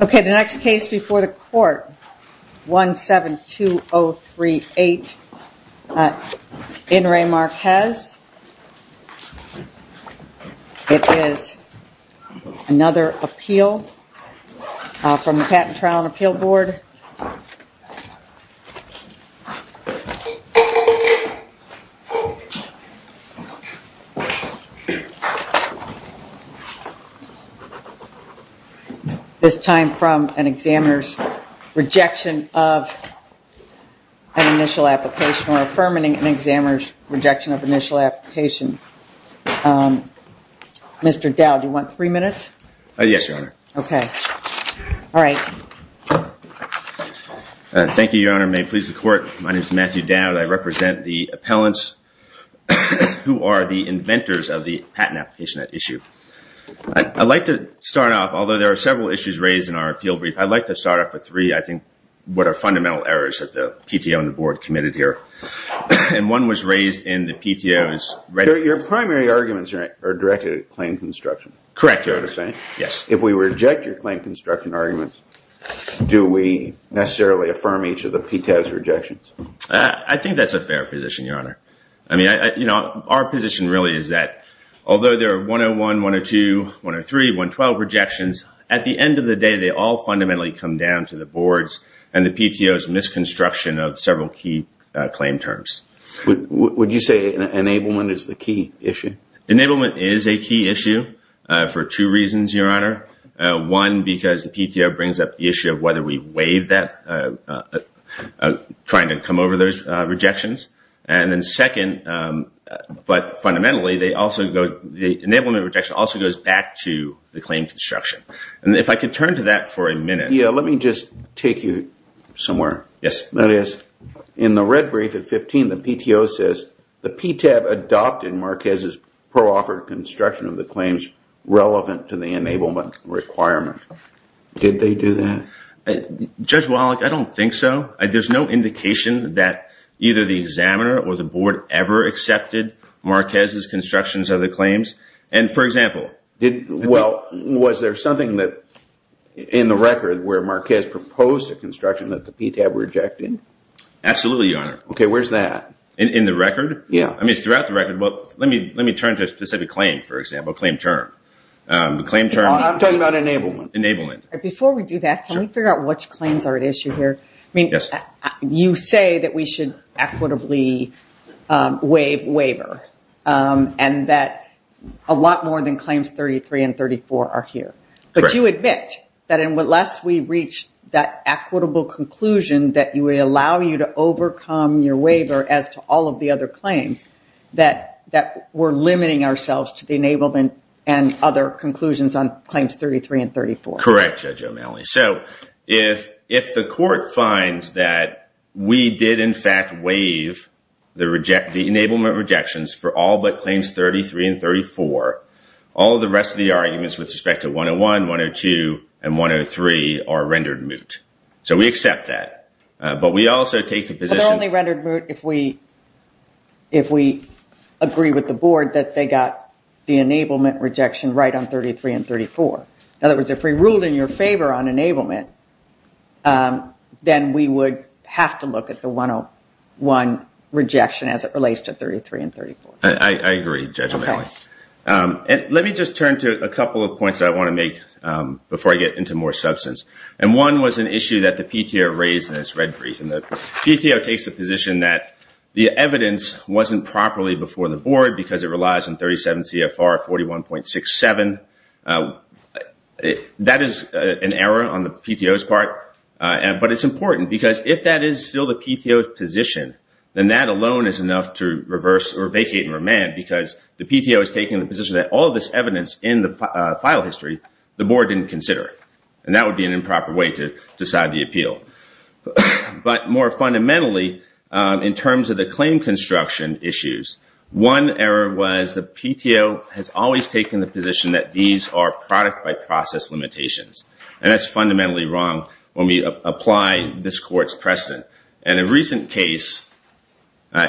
Okay, the next case before the court, 172038, in Re Marquez, it is another appeal from the this time from an examiner's rejection of an initial application or affirming an examiner's rejection of initial application. Mr. Dowd, do you want three minutes? Yes, Your Honor. Okay. All right. Thank you, Your Honor. May it please the court, my name is Matthew Dowd. I represent the appellants who are the inventors of the patent application at issue. I'd like to start off, although there are several issues raised in our appeal brief, I'd like to start off with three, I think, what are fundamental errors that the PTO and the board committed here. And one was raised in the PTO's... Your primary arguments are directed at claim construction. Correct, Your Honor. Is that what you're saying? Yes. If we reject your claim construction arguments, do we necessarily affirm each of the PTO's rejections? I think that's a fair position, Your Honor. I mean, you know, our position really is that although there are 101, 102, 103, 112 rejections, at the end of the day, they all fundamentally come down to the board's and the PTO's misconstruction of several key claim terms. Would you say enablement is the key issue? Enablement is a key issue for two reasons, Your Honor. One, because the PTO brings up the issue of whether we want to come over those rejections. And then second, but fundamentally, the enablement rejection also goes back to the claim construction. And if I could turn to that for a minute... Yeah, let me just take you somewhere. Yes. That is, in the red brief at 15, the PTO says the PTAB adopted Marquez's pro-offered construction of the claims relevant to the enablement requirement. Did they do that? Judge Wallach, I don't think so. There's no indication that either the examiner or the board ever accepted Marquez's constructions of the claims. And for example... Well, was there something in the record where Marquez proposed a construction that the PTAB rejected? Absolutely, Your Honor. OK, where's that? In the record? Yeah. I mean, throughout the record. Well, let me turn to a specific claim, for example, a claim term. A claim term... I'm talking about enablement. Enablement. Before we do that, can we figure out which claims are at issue here? I mean, you say that we should equitably waive waiver and that a lot more than claims 33 and 34 are here. But you admit that unless we reach that equitable conclusion that we allow you to overcome your waiver as to all of the other claims, that we're limiting ourselves to the enablement and other conclusions on claims 33 and 34. Correct, Judge O'Malley. So if the court finds that we did, in fact, waive the enablement rejections for all but claims 33 and 34, all of the rest of the arguments with respect to 101, 102, and 103 are rendered moot. So we accept that. But we also take the position... But they're only rendered moot if we agree with the board that they got the enablement rejection right on 33 and 34. In other words, if we ruled in your favor on enablement, then we would have to look at the 101 rejection as it relates to 33 and 34. I agree, Judge O'Malley. Okay. And let me just turn to a couple of points I want to make before I get into more substance. And one was an issue that the PTO raised in its red brief. And the PTO takes the position that the evidence wasn't properly before the board because it relies on 37 CFR 41.67. That is an error on the PTO's part. But it's important because if that is still the PTO's position, then that alone is enough to reverse or vacate and remand because the PTO is taking the position that all of this evidence in the file history, the board didn't consider it. And that would be an improper way to decide the appeal. But more fundamentally, in terms of the claim construction issues, one error was the PTO has always taken the position that these are product by process limitations. And that's fundamentally wrong when we apply this court's precedent. And a recent case,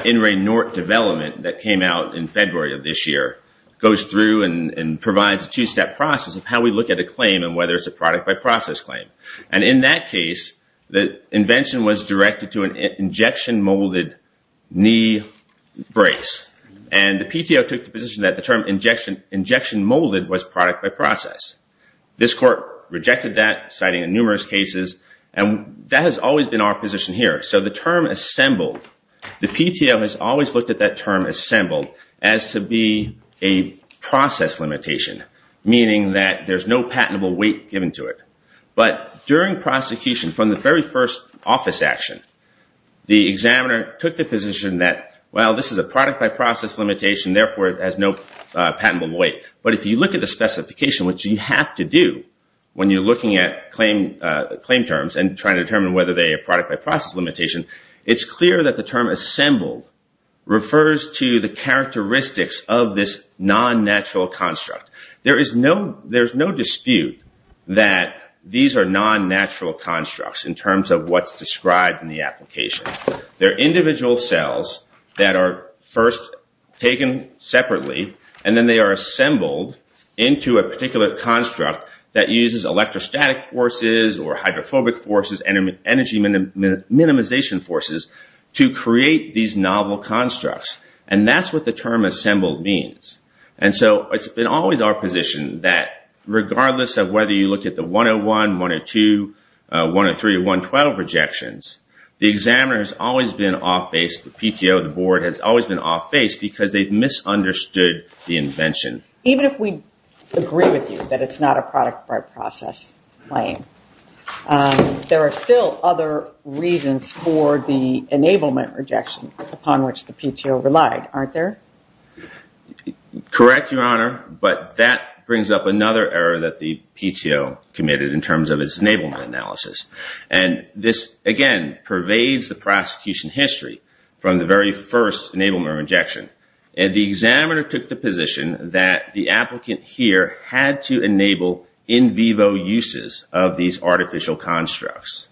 In Re Nort Development, that came out in February of this year, goes through and provides a two-step process of how we look at a claim and whether it's a product by process claim. And in that case, the invention was directed to an injection molded knee brace. And the PTO took the position that the term injection molded was product by process. This court rejected that, citing numerous cases. And that has always been our position here. So the term assembled, the PTO has always looked at that term assembled as to be a process limitation, meaning that there's no patentable weight given to it. But during prosecution, from the very first office action, the examiner took the position that, well, this is a product by process limitation. Therefore, it has no patentable weight. But if you look at the specification, which you have to do when you're looking at claim terms and trying to determine whether they are product by process limitation, it's clear that the term assembled refers to the characteristics of this non-natural construct. There is no dispute that these are non-natural constructs in terms of what's described in the application. They're individual cells that are first taken separately, and then they are assembled into a particular construct that uses electrostatic forces or hydrophobic forces, and energy minimization forces to create these novel constructs. And that's what the term assembled means. And so it's been always our position that, regardless of whether you look at the 101, 102, 103, 112 rejections, the examiner has always been off base, the PTO, the board has always been off base, because they've misunderstood the invention. Even if we agree with you that it's not a product by process claim, there are still other reasons for the enablement rejection upon which the PTO relied, aren't there? Correct, Your Honor, but that brings up another error that the PTO committed in terms of its enablement analysis. And this, again, pervades the prosecution history from the very first enablement rejection. And the examiner took the position that the applicant here had to enable in vivo uses of these artificial constructs.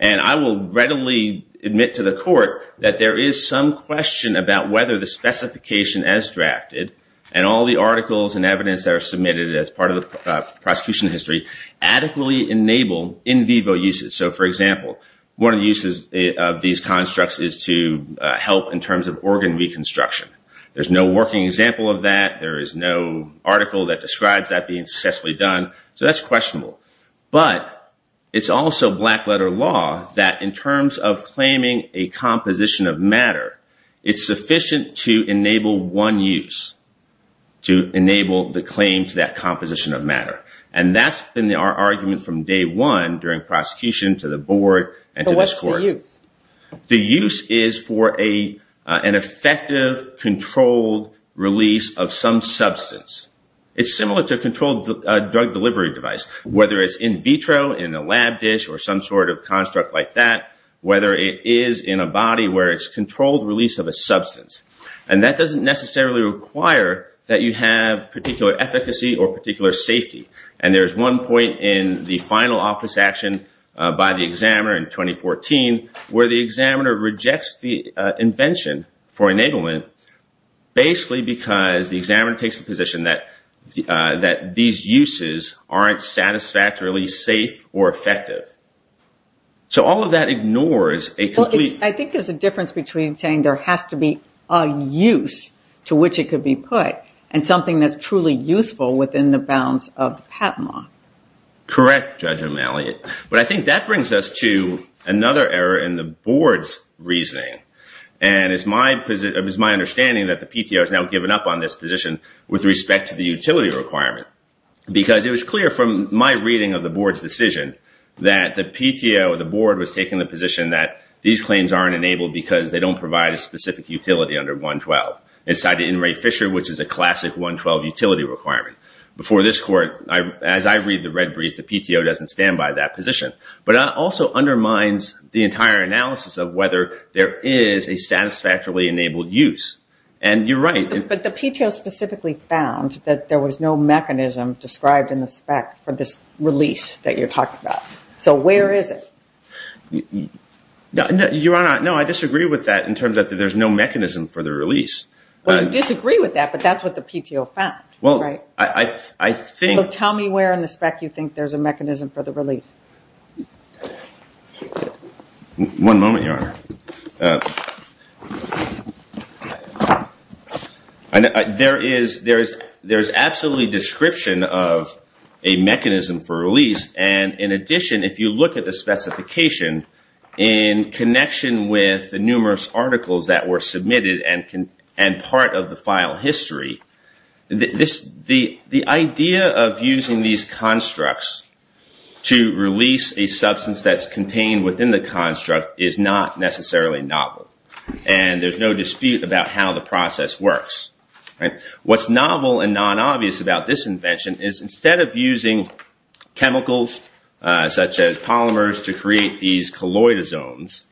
And I will readily admit to the court that there is some question about whether the specification as drafted and all the articles and evidence that are submitted as part of the prosecution history adequately enable in vivo uses. So, for example, one of the uses of these constructs is to help in terms of organ reconstruction. There's no working example of that. There is no article that describes that being successfully done. So that's questionable. But it's also black-letter law that, in terms of claiming a composition of matter, it's sufficient to enable one use, to enable the claim to that composition of matter. And that's been our argument from day one during prosecution to the board and to this court. So what's the use? The use is for an effective, controlled release of some substance. It's similar to a controlled drug delivery device, whether it's in vitro, in a lab dish, or some sort of construct like that, whether it is in a body where it's controlled release of a substance. And that doesn't necessarily require that you have particular efficacy or particular safety. And there's one point in the final office action by the examiner in 2014 where the examiner rejects the invention for enablement, basically because the examiner takes the position that these uses aren't satisfactorily safe or effective. So all of that ignores a complete... Well, I think there's a difference between saying there has to be a use to which it could be put, and something that's truly useful within the bounds of the patent law. Correct, Judge O'Malley. But I think that brings us to another error in the board's reasoning. And it's my understanding that the PTO has now given up on this position with respect to the utility requirement. Because it was clear from my reading of the board's decision that the PTO, the board was taking the position that these claims aren't enabled because they don't provide a specific utility under 112. Inside the In Re Fisher, which is a classic 112 utility requirement. Before this court, as I read the red brief, the PTO doesn't stand by that position. But it also undermines the entire analysis of whether there is a satisfactorily enabled use. And you're right. But the PTO specifically found that there was no mechanism described in the spec for this release that you're talking about. So where is it? Your Honor, no, I disagree with that in terms that there's no mechanism for the release. Well, you disagree with that, but that's what the PTO found. Well, I think... Tell me where in the spec you think there's a mechanism for the release. One moment, Your Honor. There is absolutely description of a mechanism for release. And in addition, if you look at the specification in connection with the numerous articles that were submitted and part of the file history, the idea of using these constructs to release a substance that's contained within the construct is not necessarily novel. And there's no dispute about how the process works. What's novel and non-obvious about this invention is instead of using chemicals such as polymers to create these colloidal zones,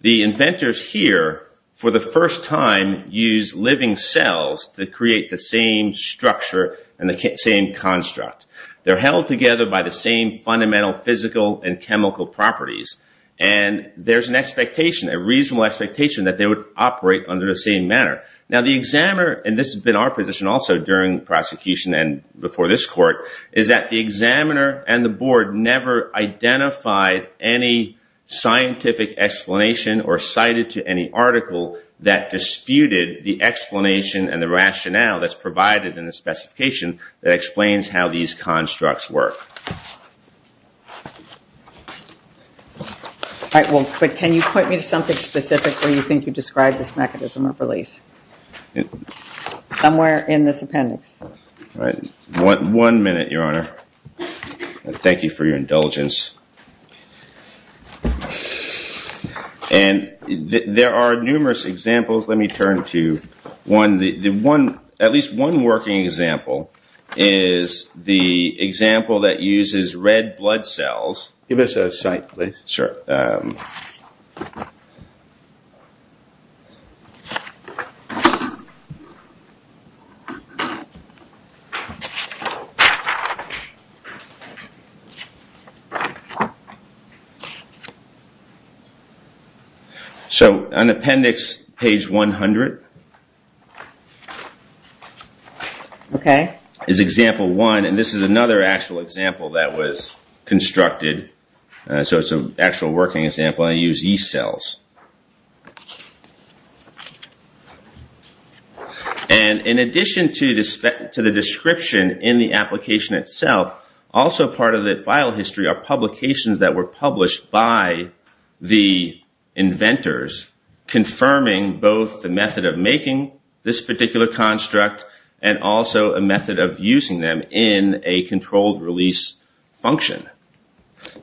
the inventors here for the first time use living cells to create the same structure and the same construct. They're held together by the same fundamental physical and chemical properties. And there's an expectation, a reasonable expectation, that they would operate under the same manner. Now, the examiner, and this has been our position also during prosecution and before this court, is that the examiner and the board never identified any scientific explanation or cited to any article that disputed the explanation and the rationale that's provided in the specification that explains how these constructs work. All right, well, but can you point me to something specific where you think you described this mechanism of release? Somewhere in this appendix. All right, one minute, Your Honor. Thank you for your indulgence. And there are numerous examples. Let me turn to one. At least one working example is the example that uses red blood cells. Give us a site, please. Sure. So an appendix, page 100. Okay. Is example one, and this is another actual example that was constructed. So it's an actual working example. I use yeast cells. And in addition to the description in the application itself, also part of the file history are publications that were published by the inventors, confirming both the method of making this particular construct and also a method of using them in a controlled release function.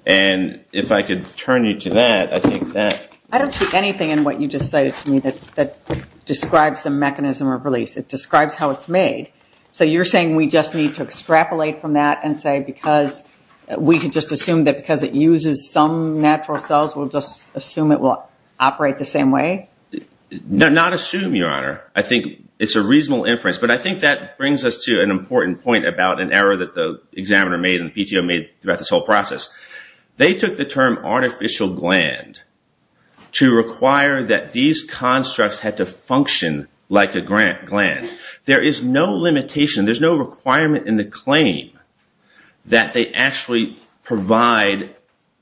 And if I could turn you to that, I think that. I don't see anything in what you just cited to me that describes the mechanism of release. It describes how it's made. So you're saying we just need to extrapolate from that and say because we could just assume that because it uses some natural cells, we'll just assume it will operate the same way? Not assume, Your Honor. I think it's a reasonable inference. But I think that brings us to an important point about an error that the examiner made and the PTO made throughout this whole process. They took the term artificial gland to require that these constructs had to function like a gland. There is no limitation. There's no requirement in the claim that they actually provide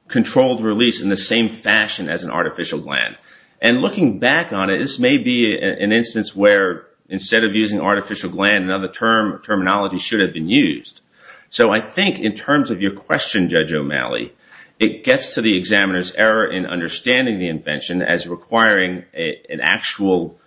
controlled release in the same fashion as an artificial gland. And looking back on it, this may be an instance where instead of using artificial gland, another terminology should have been used. So I think in terms of your question, Judge O'Malley, it gets to the examiner's error in understanding the invention as requiring an actual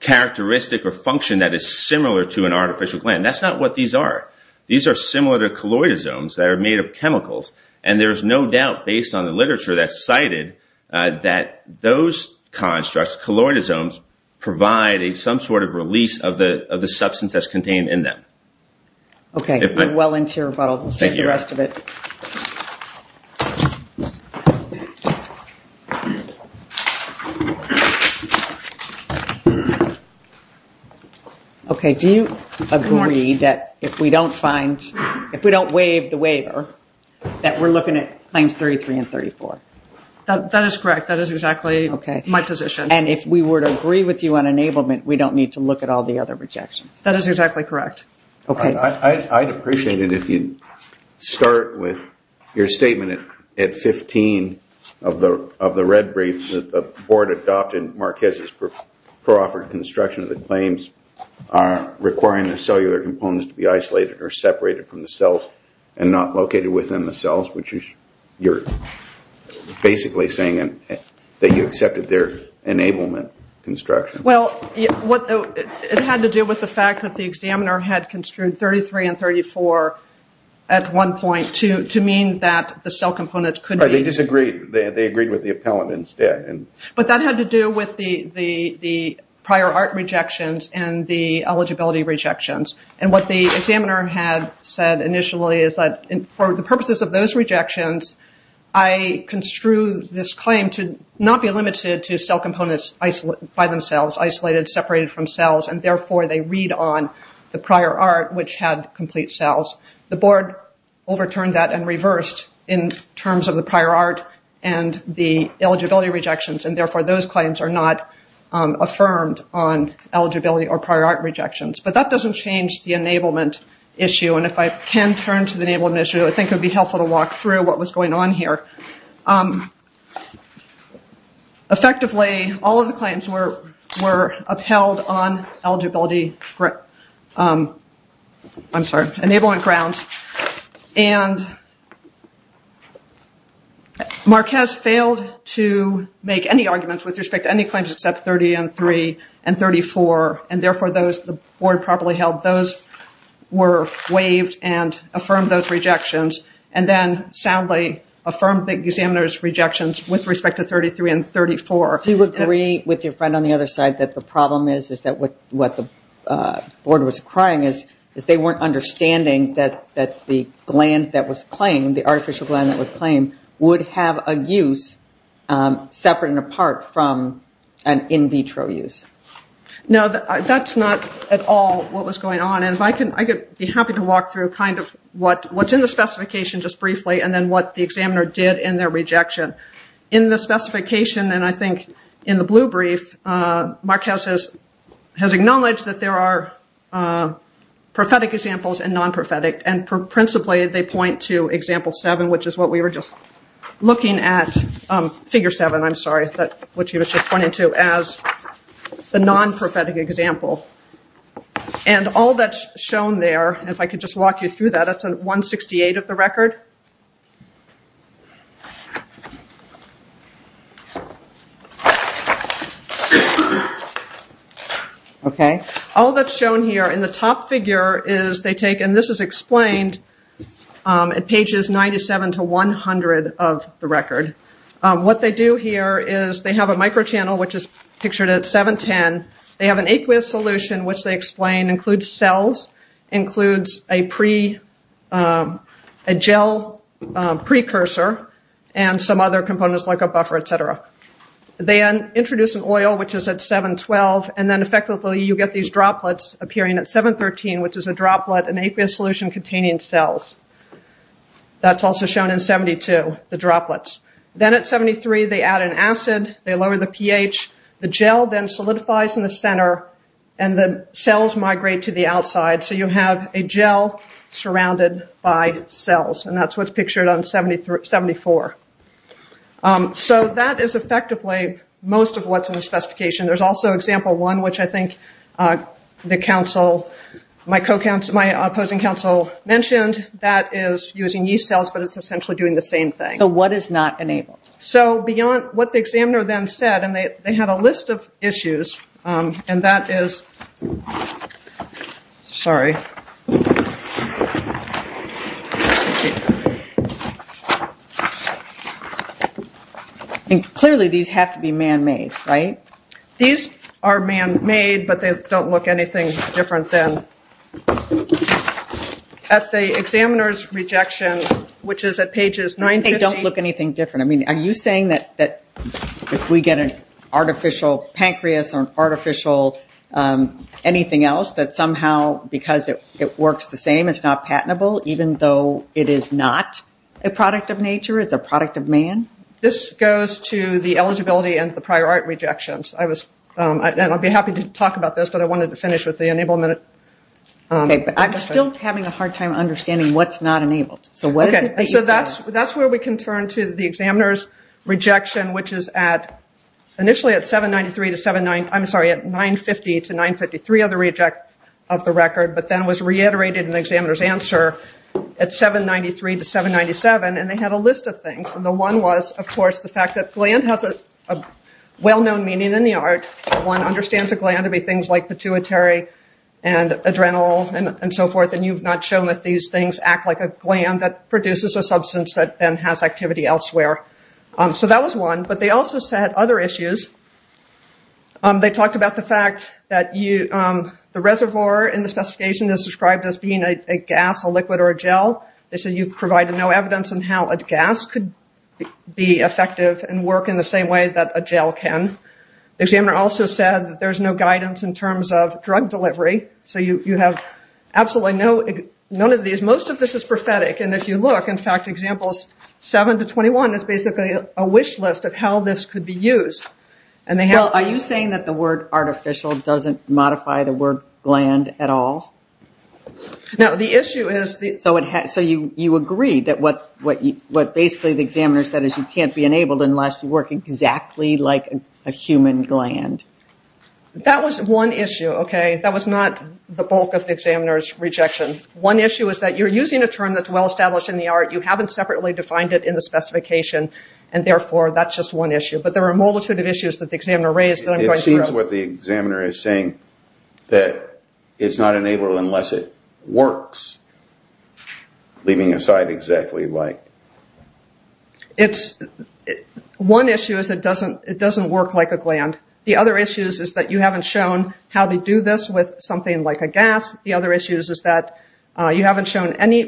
characteristic or function that is similar to an artificial gland. That's not what these are. These are similar to colloidosomes that are made of chemicals. And there's no doubt based on the literature that's cited that those constructs, colloidosomes, provide some sort of release of the substance that's contained in them. Okay, we're well into your rebuttal. We'll save the rest of it. Okay, do you agree that if we don't find, if we don't waive the waiver, that we're looking at claims 33 and 34? That is correct. That is exactly my position. And if we were to agree with you on enablement, we don't need to look at all the other rejections. That is exactly correct. Okay. I'd appreciate it if you'd start with your statement at 15 of the red brief that the board adopted Marquez's proffered construction of the claims are requiring the cellular components to be isolated or separated from the cells and not located within the cells, which you're basically saying that you accepted their enablement construction. Well, it had to do with the fact that the examiner had construed 33 and 34 at one point to mean that the cell components could be... Right, they disagreed. They agreed with the appellant instead. But that had to do with the prior art rejections and the eligibility rejections. And what the examiner had said initially is that for the purposes of those rejections, I construed this claim to not be limited to cell components by themselves, isolated, separated from cells, and therefore, they read on the prior art, which had complete cells. The board overturned that and reversed in terms of the prior art and the eligibility rejections. And therefore, those claims are not affirmed on eligibility or prior art rejections. But that doesn't change the enablement issue. And if I can turn to the enablement issue, I think it would be helpful to walk through what was going on here. Effectively, all of the claims were upheld on eligibility... I'm sorry, enablement grounds. And Marquez failed to make any arguments with respect to any claims except 30 and 3 and 34. And therefore, the board properly held those were waived and affirmed those rejections and then soundly affirmed the examiner's rejections with respect to 33 and 34. Do you agree with your friend on the other side that the problem is that what the board was crying is they weren't understanding that the gland that was claimed, the artificial gland that was claimed, would have a use separate and apart from an in vitro use? No, that's not at all what was going on. And I could be happy to walk through what's in the specification just briefly and then what the examiner did in their rejection. In the specification, and I think in the blue brief, Marquez has acknowledged that there are prophetic examples and non-prophetic. And principally, they point to example 7, which is what we were just looking at. Figure 7, I'm sorry, which he was just pointing to as the non-prophetic example. And all that's shown there, if I could just walk you through that, that's 168 of the record. Okay, all that's shown here in the top figure is they take, and this is explained at pages 97 to 100 of the record. What they do here is they have a microchannel, which is pictured at 710. They have an aqueous solution, which they explain includes cells, includes a gel precursor and some other components like a buffer, et cetera. They introduce an oil, which is at 712. And then effectively, you get these droplets appearing at 713, which is a droplet, an aqueous solution containing cells. That's also shown in 72, the droplets. Then at 73, they add an acid, they lower the pH. The gel then solidifies in the center and the cells migrate to the outside. So you have a gel surrounded by cells. And that's what's pictured on 74. So that is effectively most of what's in the specification. There's also example one, which I think the council, my opposing council mentioned, that is using yeast cells, but it's essentially doing the same thing. So what is not enabled? So beyond what the examiner then said, and they had a list of issues, and that is, sorry. And clearly, these have to be man-made, right? These are man-made, but they don't look anything different than at the examiner's rejection, which is at pages 950. They don't look anything different. I mean, are you saying that if we get an artificial pancreas or artificial anything else, that somehow because it works the same, it's not patentable, even though it is not a product of nature, it's a product of man? This goes to the eligibility and the prior art rejections. And I'll be happy to talk about this, but I wanted to finish with the enablement. Okay, but I'm still having a hard time understanding what's not enabled. So what is it that you said? So that's where we can turn to the examiner's rejection, which is at, initially at 793 to 790, I'm sorry, at 950 to 953 of the reject of the record, but then was reiterated in the examiner's answer at 793 to 797, and they had a list of things. And the one was, of course, the fact that gland has a well-known meaning in the art. One understands a gland to be things like pituitary and adrenal and so forth, and you've not shown that these things act like a gland that produces a substance that then has activity elsewhere. So that was one. But they also said other issues. They talked about the fact that the reservoir in the specification is described as being a gas, a liquid, or a gel. They said you've provided no evidence on how a gas could be effective and work in the same way that a gel can. The examiner also said that there's no guidance in terms of drug delivery. Most of this is prophetic. And if you look, in fact, 7 to 21 is basically a wish list of how this could be used. Are you saying that the word artificial doesn't modify the word gland at all? No, the issue is... So you agree that what basically the examiner said is you can't be enabled unless you work exactly like a human gland. That was one issue, okay? That was not the bulk of the examiner's rejection. One issue is that you're using a term that's well-established in the art. You haven't separately defined it in the specification. And therefore, that's just one issue. But there are a multitude of issues that the examiner raised that I'm going through. It seems what the examiner is saying that it's not enabled unless it works. Leaving aside exactly like... One issue is it doesn't work like a gland. The other issue is that you haven't shown how to do this with something like a gas. The other issue is that you haven't shown any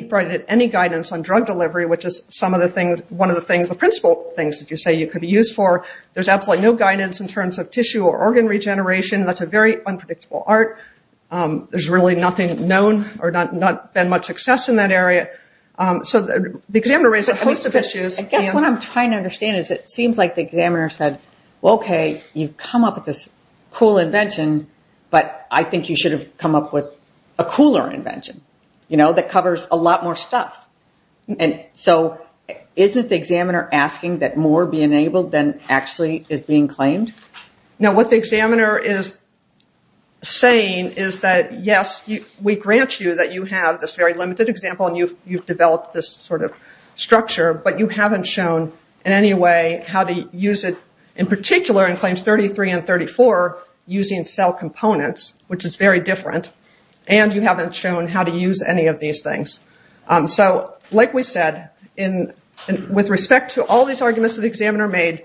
guidance on drug delivery, which is one of the principal things that you say you could use for. There's absolutely no guidance in terms of tissue or organ regeneration. That's a very unpredictable art. There's really nothing known or not been much success in that area. So the examiner raised a host of issues. I guess what I'm trying to understand is it seems like the examiner said, well, okay, you've come up with this cool invention, but I think you should have come up with a cooler invention that covers a lot more stuff. So isn't the examiner asking that more be enabled than actually is being claimed? Now, what the examiner is saying is that, yes, we grant you that you have this very limited example and you've developed this sort of structure, but you haven't shown in any way how to use it in particular in claims 33 and 34 using cell components, which is very different. And you haven't shown how to use any of these things. So like we said, with respect to all these arguments that the examiner made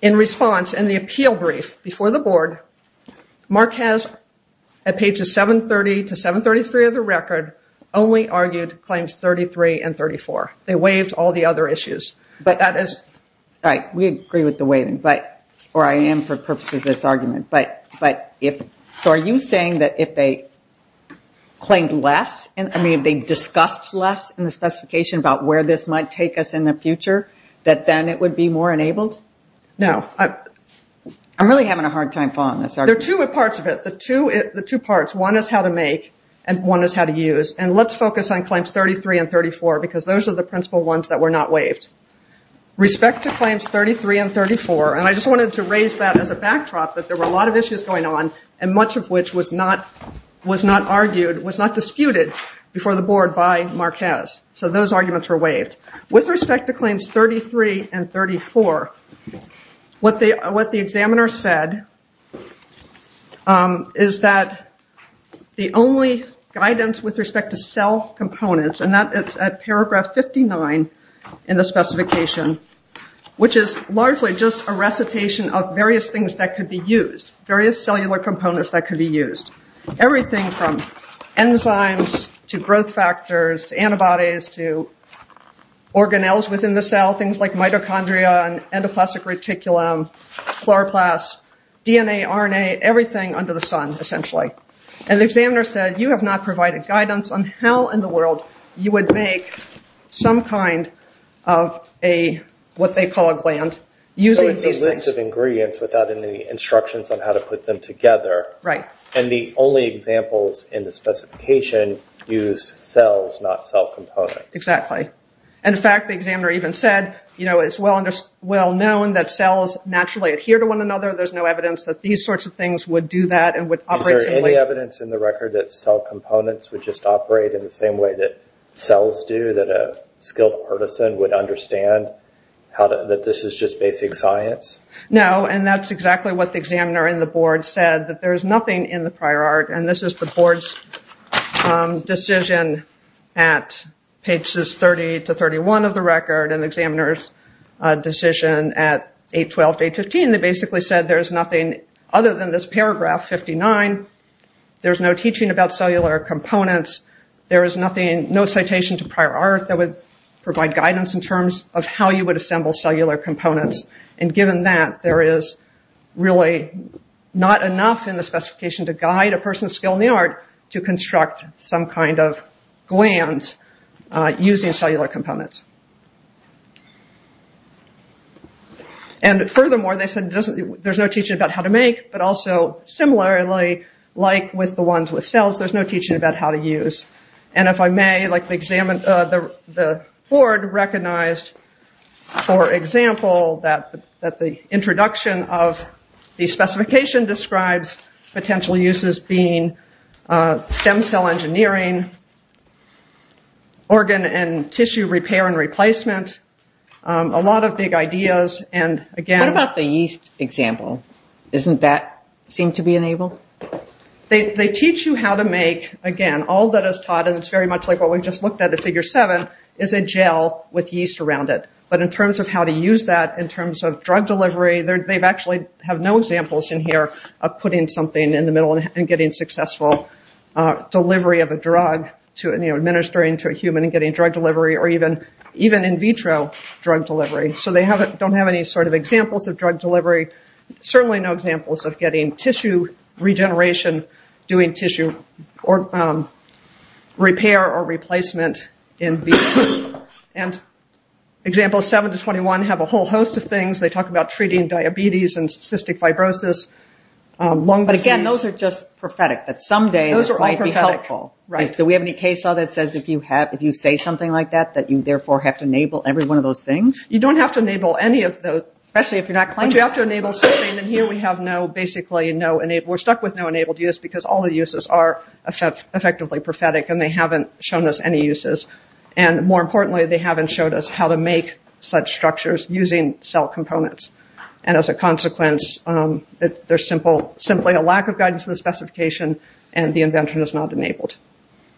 in response in the appeal brief before the board, Marquez at pages 730 to 733 of the record only argued claims 33 and 34. They waived all the other issues. But that is... All right, we agree with the waiving, or I am for purposes of this argument. But if... So are you saying that if they claimed less, I mean, if they discussed less in the specification about where this might take us in the future, that then it would be more enabled? No. I'm really having a hard time following this. There are two parts of it. The two parts, one is how to make and one is how to use. And let's focus on claims 33 and 34 because those are the principal ones that were not waived. Respect to claims 33 and 34, and I just wanted to raise that as a backdrop that there were a lot of issues going on and much of which was not argued, was not disputed before the board by Marquez. So those arguments were waived. With respect to claims 33 and 34, what the examiner said is that the only guidance with respect to cell components, and that is at paragraph 59 in the specification, which is largely just a recitation of various things that could be used, various cellular components that could be used, everything from enzymes to growth factors to antibodies to organelles within the cell, things like mitochondria and endoplasmic reticulum, chloroplasts, DNA, RNA, everything under the sun, essentially. And the examiner said, you have not provided guidance on how in the world you would make some kind of a, what they call a gland, using these things. So it's a list of ingredients without any instructions on how to put them together. Right. And the only examples in the specification use cells, not cell components. Exactly. And in fact, the examiner even said, you know, it's well known that cells naturally adhere to one another. There's no evidence that these sorts of things would do that and would operate to the... Is there any evidence in the record that cell components would just operate in the same way that cells do, that a skilled partisan would understand that this is just basic science? No. And that's exactly what the examiner and the board said, that there's nothing in the prior art. And this is the board's decision at pages 30 to 31 of the record and the examiner's decision at 812 to 815. They basically said, there's nothing other than this paragraph 59. There's no teaching about cellular components. There is nothing, no citation to prior art that would provide guidance in terms of how you would assemble cellular components. And given that, there is really not enough in the specification to guide a person's skill in the art to construct some kind of glands using cellular components. And furthermore, they said there's no teaching about how to make, but also similarly, like with the ones with cells, there's no teaching about how to use. And if I may, the board recognized, for example, that the introduction of the specification describes potential uses being stem cell engineering, organ and tissue repair and replacement, a lot of big ideas. And again- What about the yeast example? Isn't that seemed to be enabled? They teach you how to make, again, all that is taught. And it's very much like what we've just looked at in figure seven, is a gel with yeast around it. But in terms of how to use that, in terms of drug delivery, they've actually have no examples in here of putting something in the middle and getting successful delivery of a drug to administering to a human and getting drug delivery or even in vitro drug delivery. So they don't have any sort of examples of drug delivery, certainly no examples of getting tissue regeneration, doing tissue repair or replacement. And example seven to 21 have a whole host of things. They talk about treating diabetes and cystic fibrosis, lung disease- But again, those are just prophetic. That someday- Those are all prophetic. It might be helpful. Right. Do we have any case law that says if you say something like that, that you therefore have to enable every one of those things? You don't have to enable any of those, especially if you're not claiming- But you have to enable something. And here we have no, basically no enabled. Because all the uses are effectively prophetic and they haven't shown us any uses. And more importantly, they haven't showed us how to make such structures using cell components. And as a consequence, there's simply a lack of guidance in the specification and the invention is not enabled.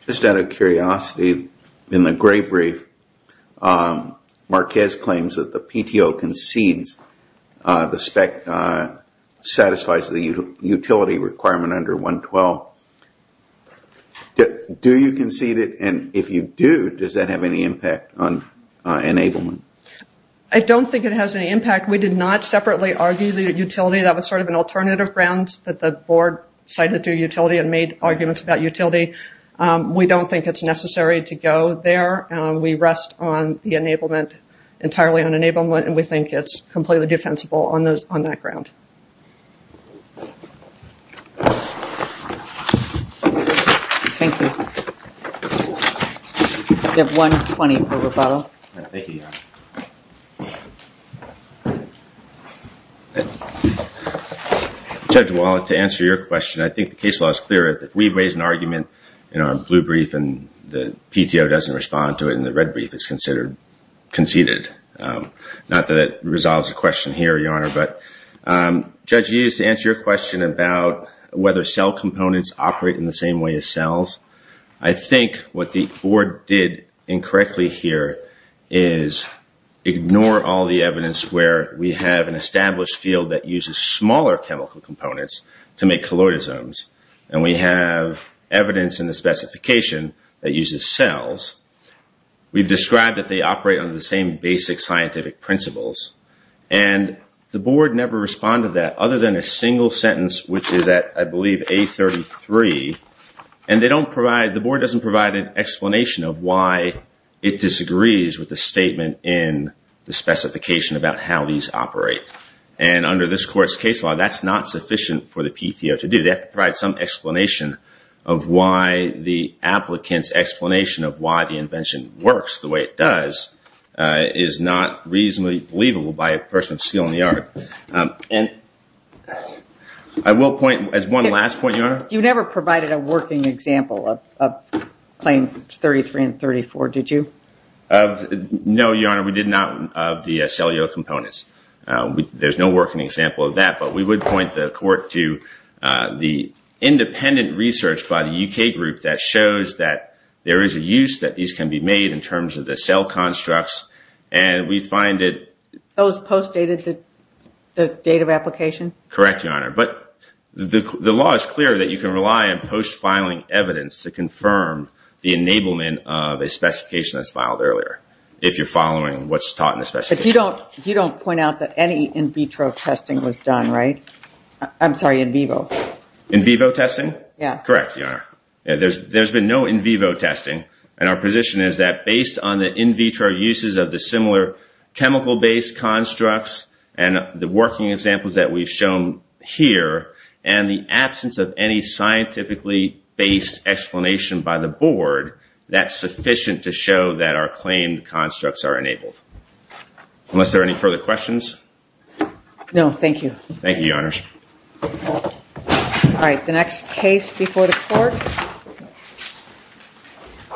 Just out of curiosity, in the gray brief, Marquez claims that the PTO concedes the spec satisfies the utility requirement under 112. Do you concede it? And if you do, does that have any impact on enablement? I don't think it has any impact. We did not separately argue the utility. That was sort of an alternative ground that the board decided to do utility and made arguments about utility. We don't think it's necessary to go there. We rest on the enablement, entirely on enablement. And we think it's completely defensible on that ground. Thank you. Judge Wallet, to answer your question, I think the case law is clear. If we raise an argument in our blue brief and the PTO doesn't respond to it in the red brief, Not that it resolves the question here, Your Honor, but judge, you used to answer your question about whether cell components operate in the same way as cells. I think what the board did incorrectly here is ignore all the evidence where we have an established field that uses smaller chemical components to make colloidal zones. And we have evidence in the specification that uses cells. We've described that they operate under the same basic scientific principles. And the board never responded to that, other than a single sentence, which is at, I believe, A33. And they don't provide, the board doesn't provide an explanation of why it disagrees with the statement in the specification about how these operate. And under this court's case law, that's not sufficient for the PTO to do. They have to provide some explanation of why the applicant's explanation of why the invention works the way it does is not reasonably believable by a person of skill in the art. And I will point, as one last point, Your Honor. You never provided a working example of claim 33 and 34, did you? No, Your Honor, we did not of the cellular components. There's no working example of that. But we would point the court to the independent research by the UK group that shows that there is a use that these can be made in terms of the cell constructs and we find it... Those post-dated the date of application? Correct, Your Honor. But the law is clear that you can rely on post-filing evidence to confirm the enablement of a specification that's filed earlier if you're following what's taught in the specification. But you don't point out that any in vitro testing was done, right? I'm sorry, in vivo. In vivo testing? Yeah. Correct, Your Honor. There's been no in vivo testing and our position is that based on the in vitro uses of the similar chemical-based constructs and the working examples that we've shown here and the absence of any scientifically-based explanation by the board, that's sufficient to show that our claimed constructs are enabled. Unless there are any further questions? No, thank you. Thank you, Your Honors. All right, the next case before the court.